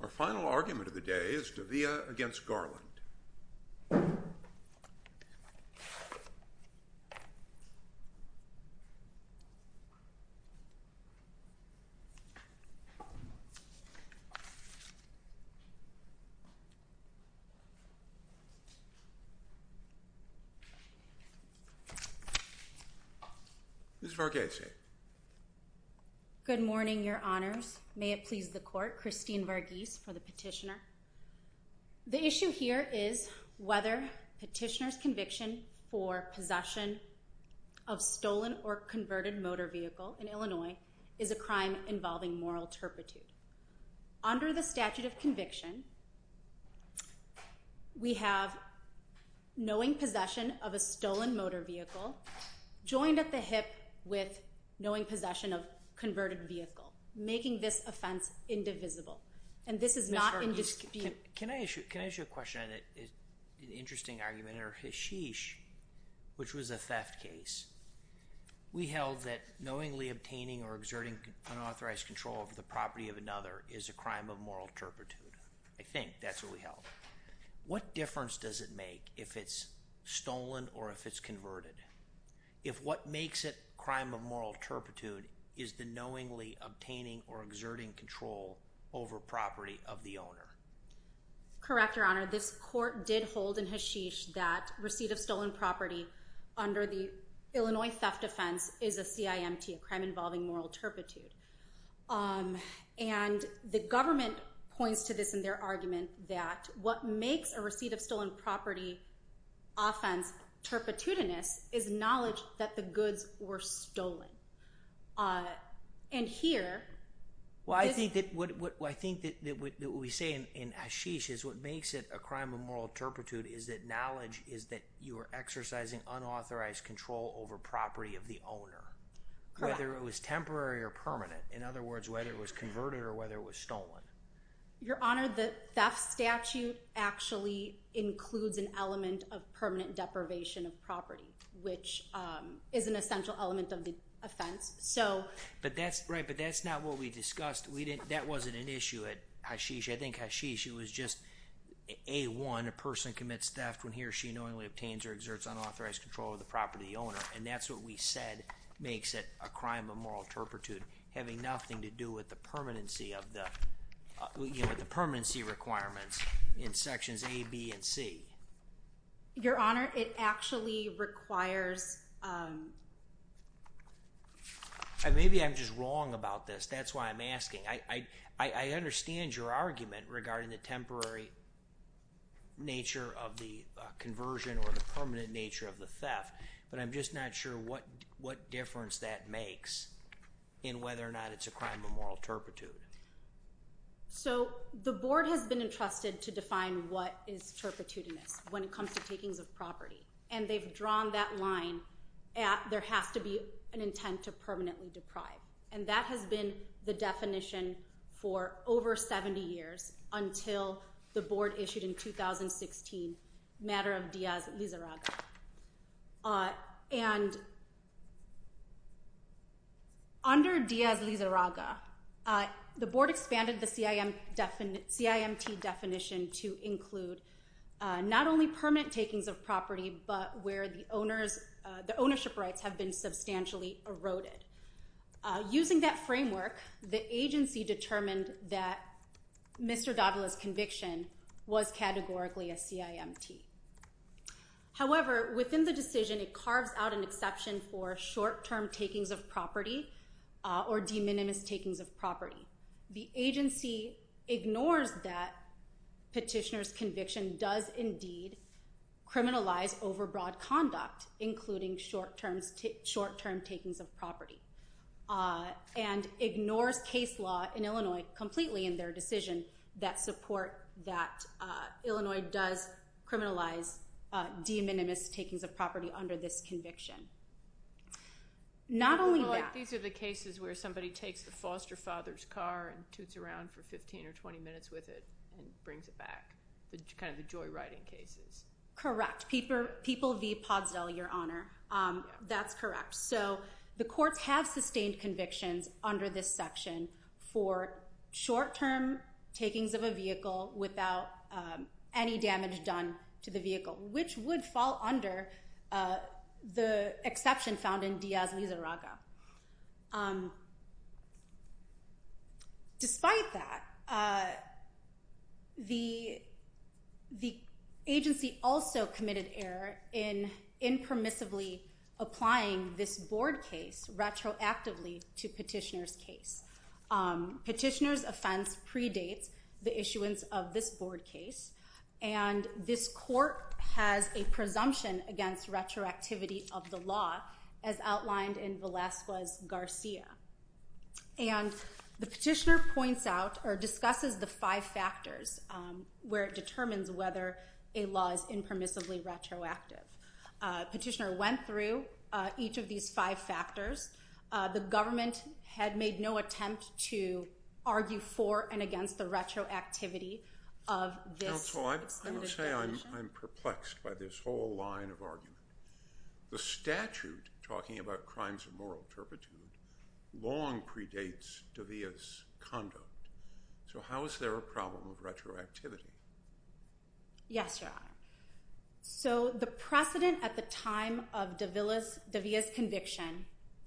Our final argument of the day is Davila v. Merrick B. Garland Ms. Varghese Good morning your honors. May it please the court, Christine Varghese for the petitioner. The issue here is whether petitioner's conviction for possession of stolen or converted motor vehicle in Illinois is a crime involving moral turpitude. Under the statute of conviction, we have knowing possession of a stolen motor vehicle joined at the hip with knowing possession of converted vehicle, making this offense indivisible. Ms. Varghese, can I ask you a question, an interesting argument, under Hasheesh, which was a theft case, we held that knowingly obtaining or exerting unauthorized control over the property of another is a crime of moral turpitude, I think that's what we held. What difference does it make if it's stolen or if it's converted? If what makes it a crime of moral turpitude is the knowingly obtaining or exerting control over property of the owner? Correct your honor, this court did hold in Hasheesh that receipt of stolen property under the Illinois theft offense is a CIMT, a crime involving moral turpitude. And the government points to this in their argument that what makes a receipt of stolen property offense turpitudinous is knowledge that the goods were stolen. And here, well I think that what we say in Hasheesh is what makes it a crime of moral turpitude is that knowledge is that you are exercising unauthorized control over property of the owner. Correct. Whether it was temporary or permanent, in other words whether it was converted or whether it was stolen. Your honor, the theft statute actually includes an element of permanent deprivation of property, which is an essential element of the offense. But that's right, but that's not what we discussed. That wasn't an issue at Hasheesh. I think Hasheesh, it was just A1, a person commits theft when he or she knowingly obtains or exerts unauthorized control over the property of the owner, and that's what we said makes it a crime of moral turpitude, having nothing to do with the permanency requirements in sections A, B, and C. Your honor, it actually requires... Maybe I'm just wrong about this, that's why I'm asking. I understand your argument regarding the temporary nature of the conversion or the permanent nature of the theft, but I'm just not sure what difference that makes in whether or not it's a crime of moral turpitude. So the board has been entrusted to define what is turpitudinous when it comes to taking of property, and they've drawn that line at there has to be an intent to permanently deprive. And that has been the definition for over 70 years until the board issued in 2016, matter of Diaz-Lizarraga. And under Diaz-Lizarraga, the board expanded the CIMT definition to include not only permanent takings of property, but where the ownership rights have been substantially eroded. Using that framework, the agency determined that Mr. Davila's conviction was categorically a CIMT. However, within the decision, it carves out an exception for short-term takings of property or de minimis takings of property. The agency ignores that petitioner's conviction does indeed criminalize overbroad conduct, including short-term takings of property, and ignores case law in Illinois completely in their decision that support that Illinois does criminalize de minimis takings of property under this conviction. Not only that- Well, like these are the cases where somebody takes the foster father's car and toots around for 15 or 20 minutes with it and brings it back, the kind of the joyriding cases. Correct. People v. Potsdell, Your Honor. That's correct. So the courts have sustained convictions under this section for short-term takings of a vehicle without any damage done to the vehicle, which would fall under the exception found in Diaz-Lizarraga. Despite that, the agency also committed error in impermissibly applying this board case retroactively to petitioner's case. Petitioner's offense predates the issuance of this board case, and this court has a presumption against retroactivity of the law as outlined in Velasquez-Garcia. The petitioner points out or discusses the five factors where it determines whether a law is impermissibly retroactive. Petitioner went through each of these five factors. The government had made no attempt to argue for and against the retroactivity of this extended conviction. Counsel, I will say I'm perplexed by this whole line of argument. The statute talking about crimes of moral turpitude long predates De Villa's conduct. So how is there a problem of retroactivity? Yes, Your Honor. So the precedent at the time of De Villa's conviction...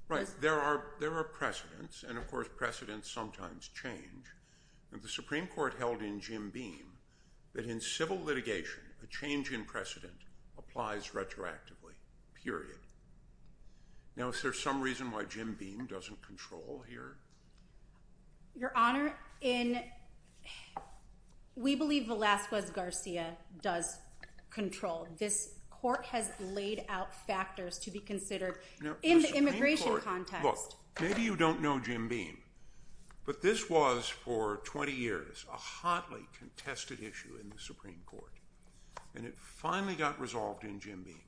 Right, there are precedents, and of course precedents sometimes change. The Supreme Court held in Jim Beam that in civil litigation, a change in precedent applies retroactively, period. Now, is there some reason why Jim Beam doesn't control here? Your Honor, we believe Velasquez-Garcia does control. This court has laid out factors to be considered in the immigration context. Look, maybe you don't know Jim Beam, but this was for 20 years a hotly contested issue in the Supreme Court, and it finally got resolved in Jim Beam,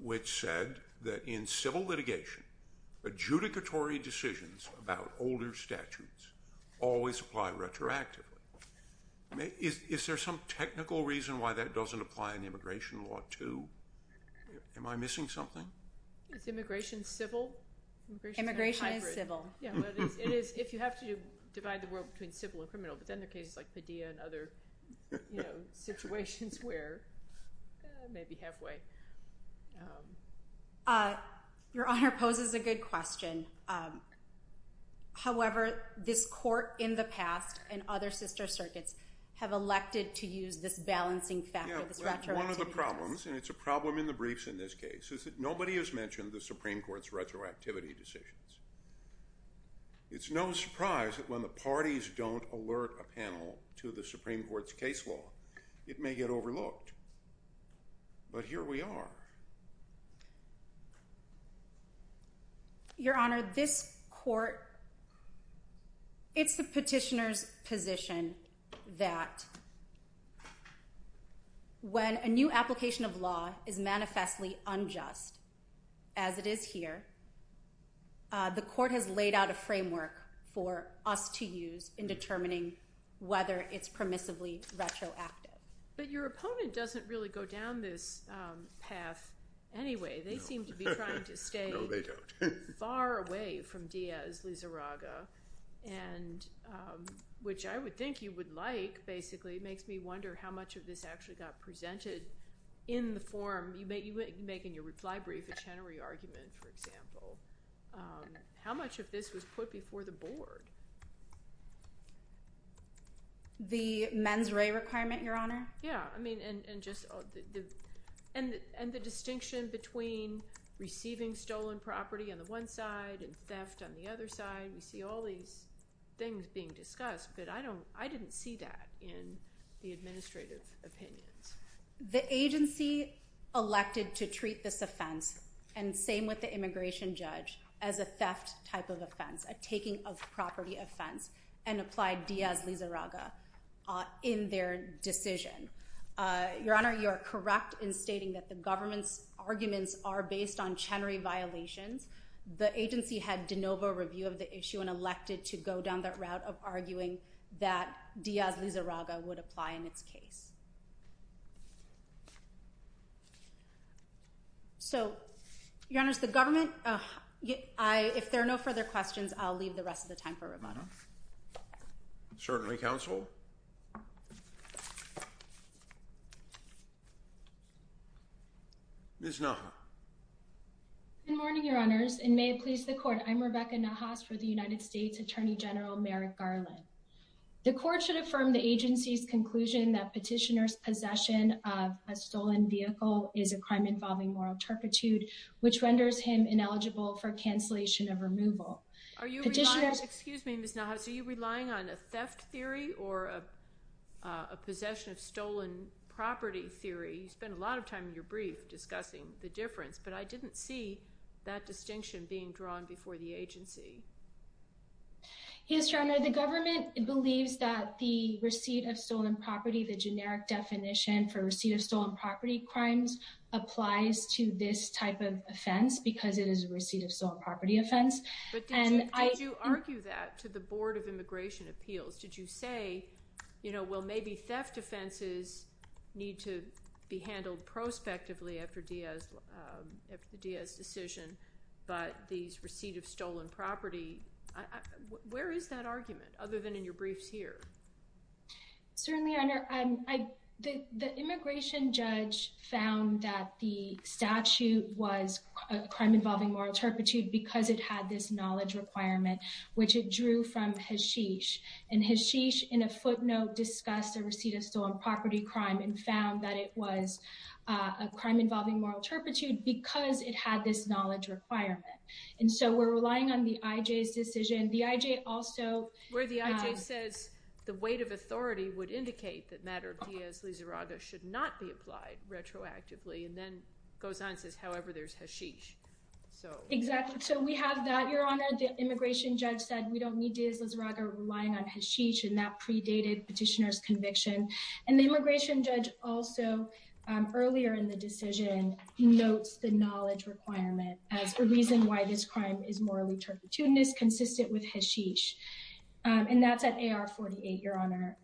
which said that in civil litigation, adjudicatory decisions about older statutes always apply retroactively. Is there some technical reason why that doesn't apply in immigration law too? Am I missing something? Is immigration civil? Immigration is civil. If you have to divide the world between civil and criminal, but then there are cases like Padilla and other situations where maybe halfway. Your Honor poses a good question. However, this court in the past and other sister circuits have elected to use this balancing factor, this retroactivity. One of the problems, and it's a problem in the briefs in this case, is that nobody has mentioned the Supreme Court's retroactivity decisions. It's no surprise that when the parties don't alert a panel to the Supreme Court's case law, it may get overlooked. But here we are. Your Honor, this court, it's the petitioner's position that when a new application of law is manifestly unjust, as it is here, the court has laid out a framework for us to use in determining whether it's permissively retroactive. But your opponent doesn't really go down this path anyway. They seem to be trying to stay far away from Diaz-Lizarraga, which I would think you would like, basically. It makes me wonder how much of this actually got presented in the form. You make in your reply brief a Chenery argument, for example. How much of this was put before the board? The mens rea requirement, your Honor? Yeah, I mean, and the distinction between receiving stolen property on the one side and theft on the other side. We see all these things being discussed, but I didn't see that in the administrative opinions. The agency elected to treat this offense, and same with the immigration judge, as a taking of property offense and applied Diaz-Lizarraga in their decision. Your Honor, you are correct in stating that the government's arguments are based on Chenery violations. The agency had de novo review of the issue and elected to go down that route of arguing that Diaz-Lizarraga would apply in its case. So, your Honor, the government, if there are no further questions, I'll leave the rest of the time for rebuttal. Certainly, counsel. Ms. Nahas. Good morning, your Honors, and may it please the Court. I'm Rebecca Nahas for the United States Attorney General Merrick Garland. The Court should affirm the agency's conclusion that petitioner's possession of a stolen vehicle is a crime involving moral turpitude, which renders him ineligible for cancellation of removal. Are you relying, excuse me, Ms. Nahas, are you relying on a theft theory or a possession of stolen property theory? You spent a lot of time in your brief discussing the difference, but I didn't see that distinction being drawn before the agency. Yes, your Honor, the government believes that the receipt of stolen property, the generic definition for receipt of stolen property crimes, applies to this type of offense because it is a receipt of stolen property offense. But did you argue that to the Board of Immigration Appeals? Did you say, you know, well maybe theft offenses need to be handled prospectively after Diaz's decision, but these receipt of stolen property, where is that argument other than in your briefs here? Certainly, your Honor, the immigration judge found that the statute was a crime involving moral turpitude because it had this knowledge requirement, which it drew from Hashish. And Hashish, in a footnote, discussed a receipt of stolen property crime and found that it was a crime involving moral turpitude because it had this knowledge requirement. And so we're relying on the IJ's decision. The IJ also... Where the IJ says the weight of authority would indicate that matter of Diaz-Lizarraga should not be applied retroactively and then goes on and says, however, there's Hashish. Exactly. So we have that, your Honor. The immigration judge said we don't need Diaz-Lizarraga relying on Hashish and that predated petitioner's conviction. And the immigration judge also, earlier in the decision, notes the knowledge requirement as a reason why this crime is morally turpitudinous, consistent with Hashish. And that's at AR 48, your Honor.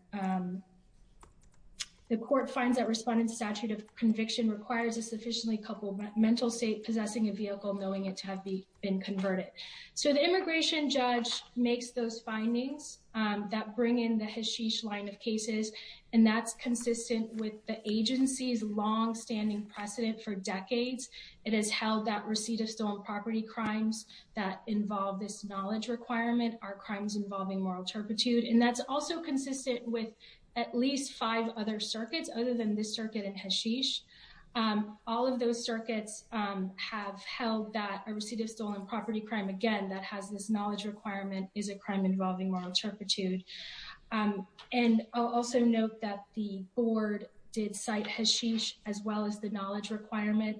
The court finds that respondent's statute of conviction requires a sufficiently coupled mental state possessing a vehicle knowing it to have been converted. So the immigration judge makes those findings that bring in the Hashish line of cases. And that's consistent with the agency's longstanding precedent for decades. It has held that receipt of stolen property crimes that involve this knowledge requirement are crimes involving moral turpitude. And that's also consistent with at least five other circuits other than this circuit and Hashish. All of those circuits have held that a receipt of stolen property crime, again, that has this knowledge requirement is a crime involving moral turpitude. And I'll also note that the board did cite Hashish as well as the knowledge requirement.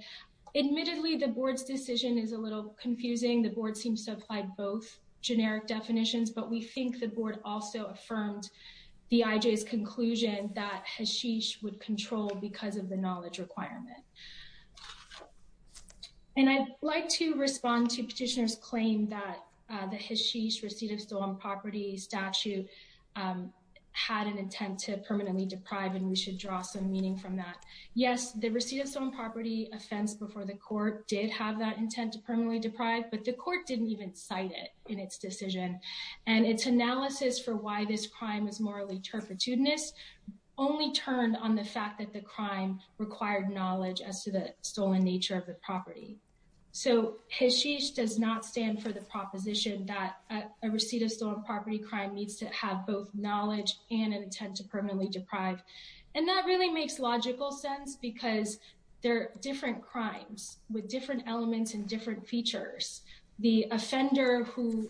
Admittedly, the board's decision is a little confusing. The board seems to apply both generic definitions, but we think the board also affirmed the IJ's that Hashish would control because of the knowledge requirement. And I'd like to respond to Petitioner's claim that the Hashish receipt of stolen property statute had an intent to permanently deprive, and we should draw some meaning from that. Yes, the receipt of stolen property offense before the court did have that intent to permanently deprive, but the court didn't even cite it in its decision. And its analysis for why this crime is morally turpitudinous only turned on the fact that the crime required knowledge as to the stolen nature of the property. So Hashish does not stand for the proposition that a receipt of stolen property crime needs to have both knowledge and an intent to permanently deprive. And that really makes logical sense because there are different crimes with different elements and different features. The offender who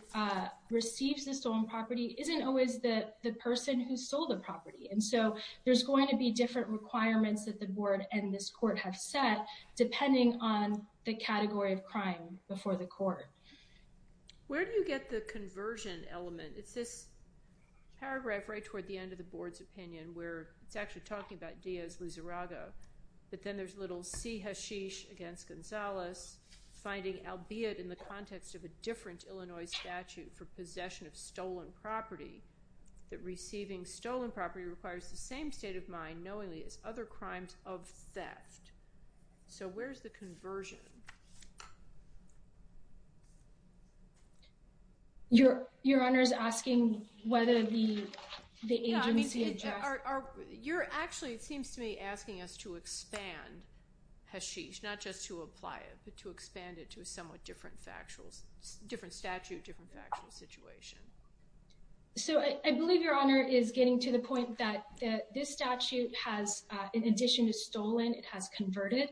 receives the stolen property isn't always the person who sold the property. And so there's going to be different requirements that the board and this court have set depending on the category of crime before the court. Where do you get the conversion element? It's this paragraph right toward the end of the board's opinion where it's actually talking about Diaz-Lizarrago. But then there's little C. Hashish against Gonzalez, finding albeit in the context of a different Illinois statute for possession of stolen property, that receiving stolen property requires the same state of mind knowingly as other crimes of theft. So where's the conversion? Your Honor is asking whether the agency adjusts. You're actually, it seems to me, asking us to expand Hashish. Not just to apply it, but to expand it to a somewhat different statute, different factual situation. So I believe Your Honor is getting to the point that this statute has, in addition to stolen, it has converted.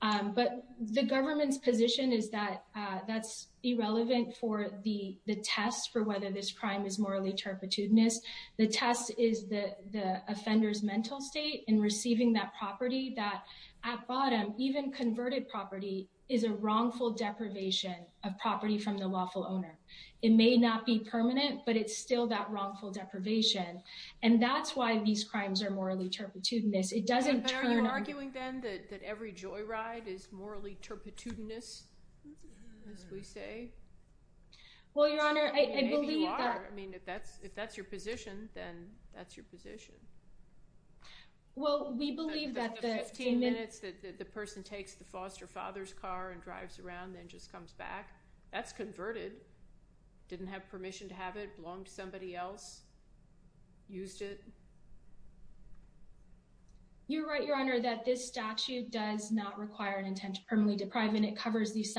But the government's position is that that's irrelevant for the test for whether this crime is morally turpitudinous. The test is the offender's mental state in receiving that property that, at bottom, even converted property is a wrongful deprivation of property from the lawful owner. It may not be permanent, but it's still that wrongful deprivation. And that's why these crimes are morally turpitudinous. It doesn't turn them. But are you arguing then that every joyride is morally turpitudinous, as we say? Well, Your Honor, I believe that... Maybe you are. I mean, if that's your position, then that's your position. Well, we believe that the... After 15 minutes, the person takes the foster father's car and drives around and just comes back. That's converted. Didn't have permission to have it. Belonged to somebody else. Used it. You're right, Your Honor, that this statute does not require an intent to permanently deprive. And it covers these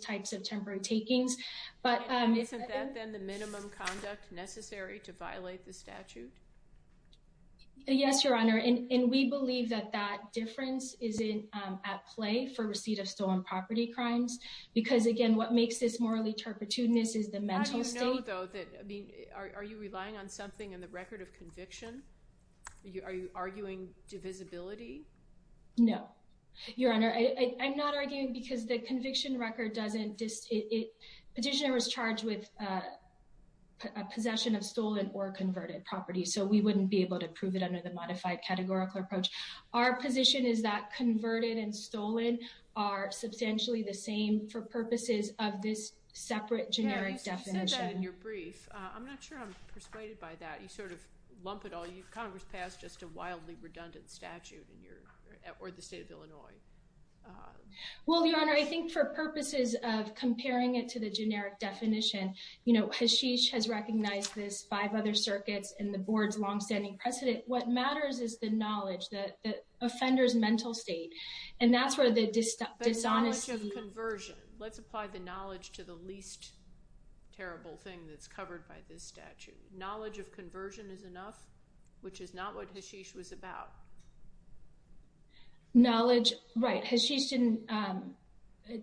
types of temporary takings. Isn't that, then, the minimum conduct necessary to violate the statute? Yes, Your Honor. And we believe that that difference is at play for receipt of stolen property crimes. Because, again, what makes this morally turpitudinous is the mental state. How do you know, though, that... Are you relying on something in the record of conviction? Are you arguing divisibility? No, Your Honor. I'm not arguing because the conviction record doesn't... The petitioner was charged with possession of stolen or converted property. So we wouldn't be able to prove it under the modified categorical approach. Our position is that converted and stolen are substantially the same for purposes of this separate generic definition. You said that in your brief. I'm not sure I'm persuaded by that. You sort of lump it all... Congress passed just a wildly redundant statute in your... Or the state of Illinois. Well, Your Honor, I think for purposes of comparing it to the generic definition, you know, Hasheesh has recognized this, five other circuits, and the board's longstanding precedent. What matters is the knowledge, the offender's mental state. And that's where the dishonesty... But knowledge of conversion. Let's apply the knowledge to the least terrible thing that's covered by this statute. Knowledge of conversion is enough, which is not what Hasheesh was about. Knowledge... Right. Hasheesh didn't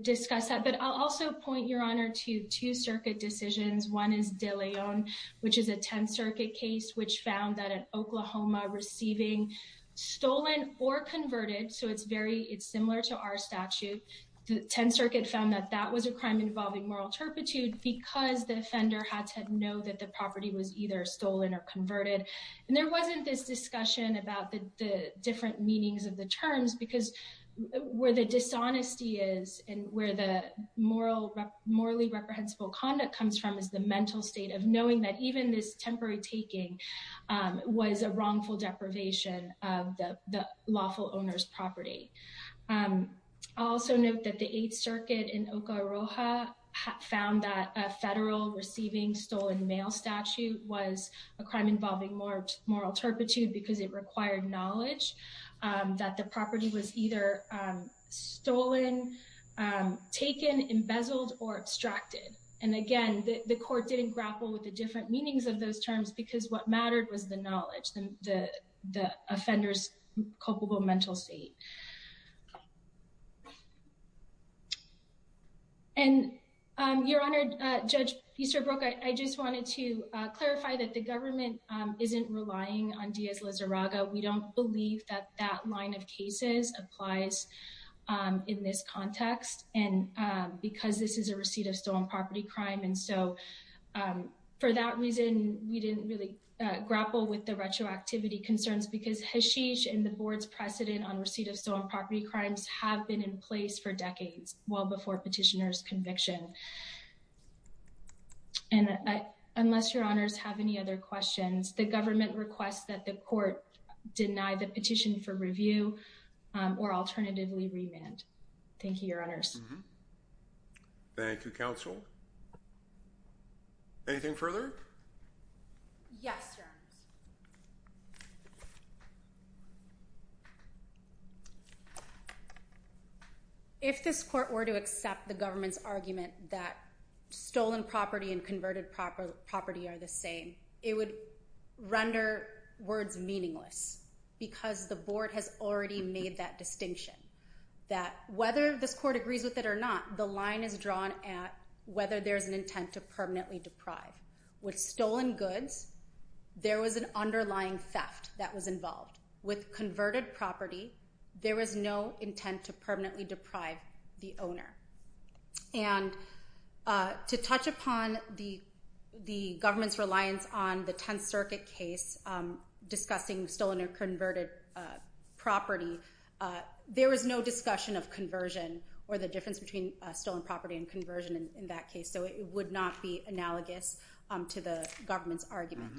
discuss that. But I'll also point, Your Honor, to two circuit decisions. One is De Leon, which is a Tenth Circuit case, which found that an Oklahoma receiving stolen or converted... So it's very... It's similar to our statute. The Tenth Circuit found that that was a crime involving moral turpitude because the offender had to know that the property was either stolen or converted. And there wasn't this discussion about the different meanings of the terms because where the dishonesty is and where the morally reprehensible conduct comes from is the mental state of knowing that even this temporary taking was a wrongful deprivation of the lawful owner's property. I'll also note that the Eighth Circuit in Oca Roja found that a federal receiving stolen mail statute was a crime involving moral turpitude because it required knowledge that the property was either stolen, taken, embezzled, or abstracted. And again, the court didn't grapple with the different meanings of those terms because what mattered was the knowledge, the offender's culpable mental state. And, Your Honor, Judge Easterbrook, I just wanted to clarify that the government isn't relying on Diaz-Lizarraga. We don't believe that that line of cases applies in this context because this is a receipt of stolen property crime. And so, for that reason, we didn't really grapple with the retroactivity concerns because Hashish and the Board's precedent on receipt of stolen property crimes have been in place for decades, well before petitioner's conviction. And unless Your Honors have any other questions, the government requests that the court deny the petition for review or alternatively remand. Thank you, Your Honors. Thank you, Counsel. Anything further? Yes, Your Honors. If this court were to accept the government's argument that stolen property and converted property are the same, it would render words meaningless because the Board has already made that distinction that whether this court agrees with it or not, the line is drawn at whether there's an intent to permanently deprive. With stolen goods, there was an underlying theft that was involved. With converted property, there was no intent to permanently deprive the owner. And to touch upon the government's reliance on the Tenth Circuit case discussing stolen or converted property, there was no discussion of conversion or the difference between stolen property and conversion in that case. So it would not be analogous to the government's argument.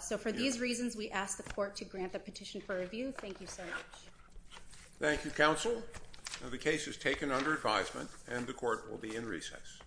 So for these reasons, we ask the court to grant the petition for review. Thank you so much. Thank you, Counsel. The case is taken under advisement and the court will be in recess.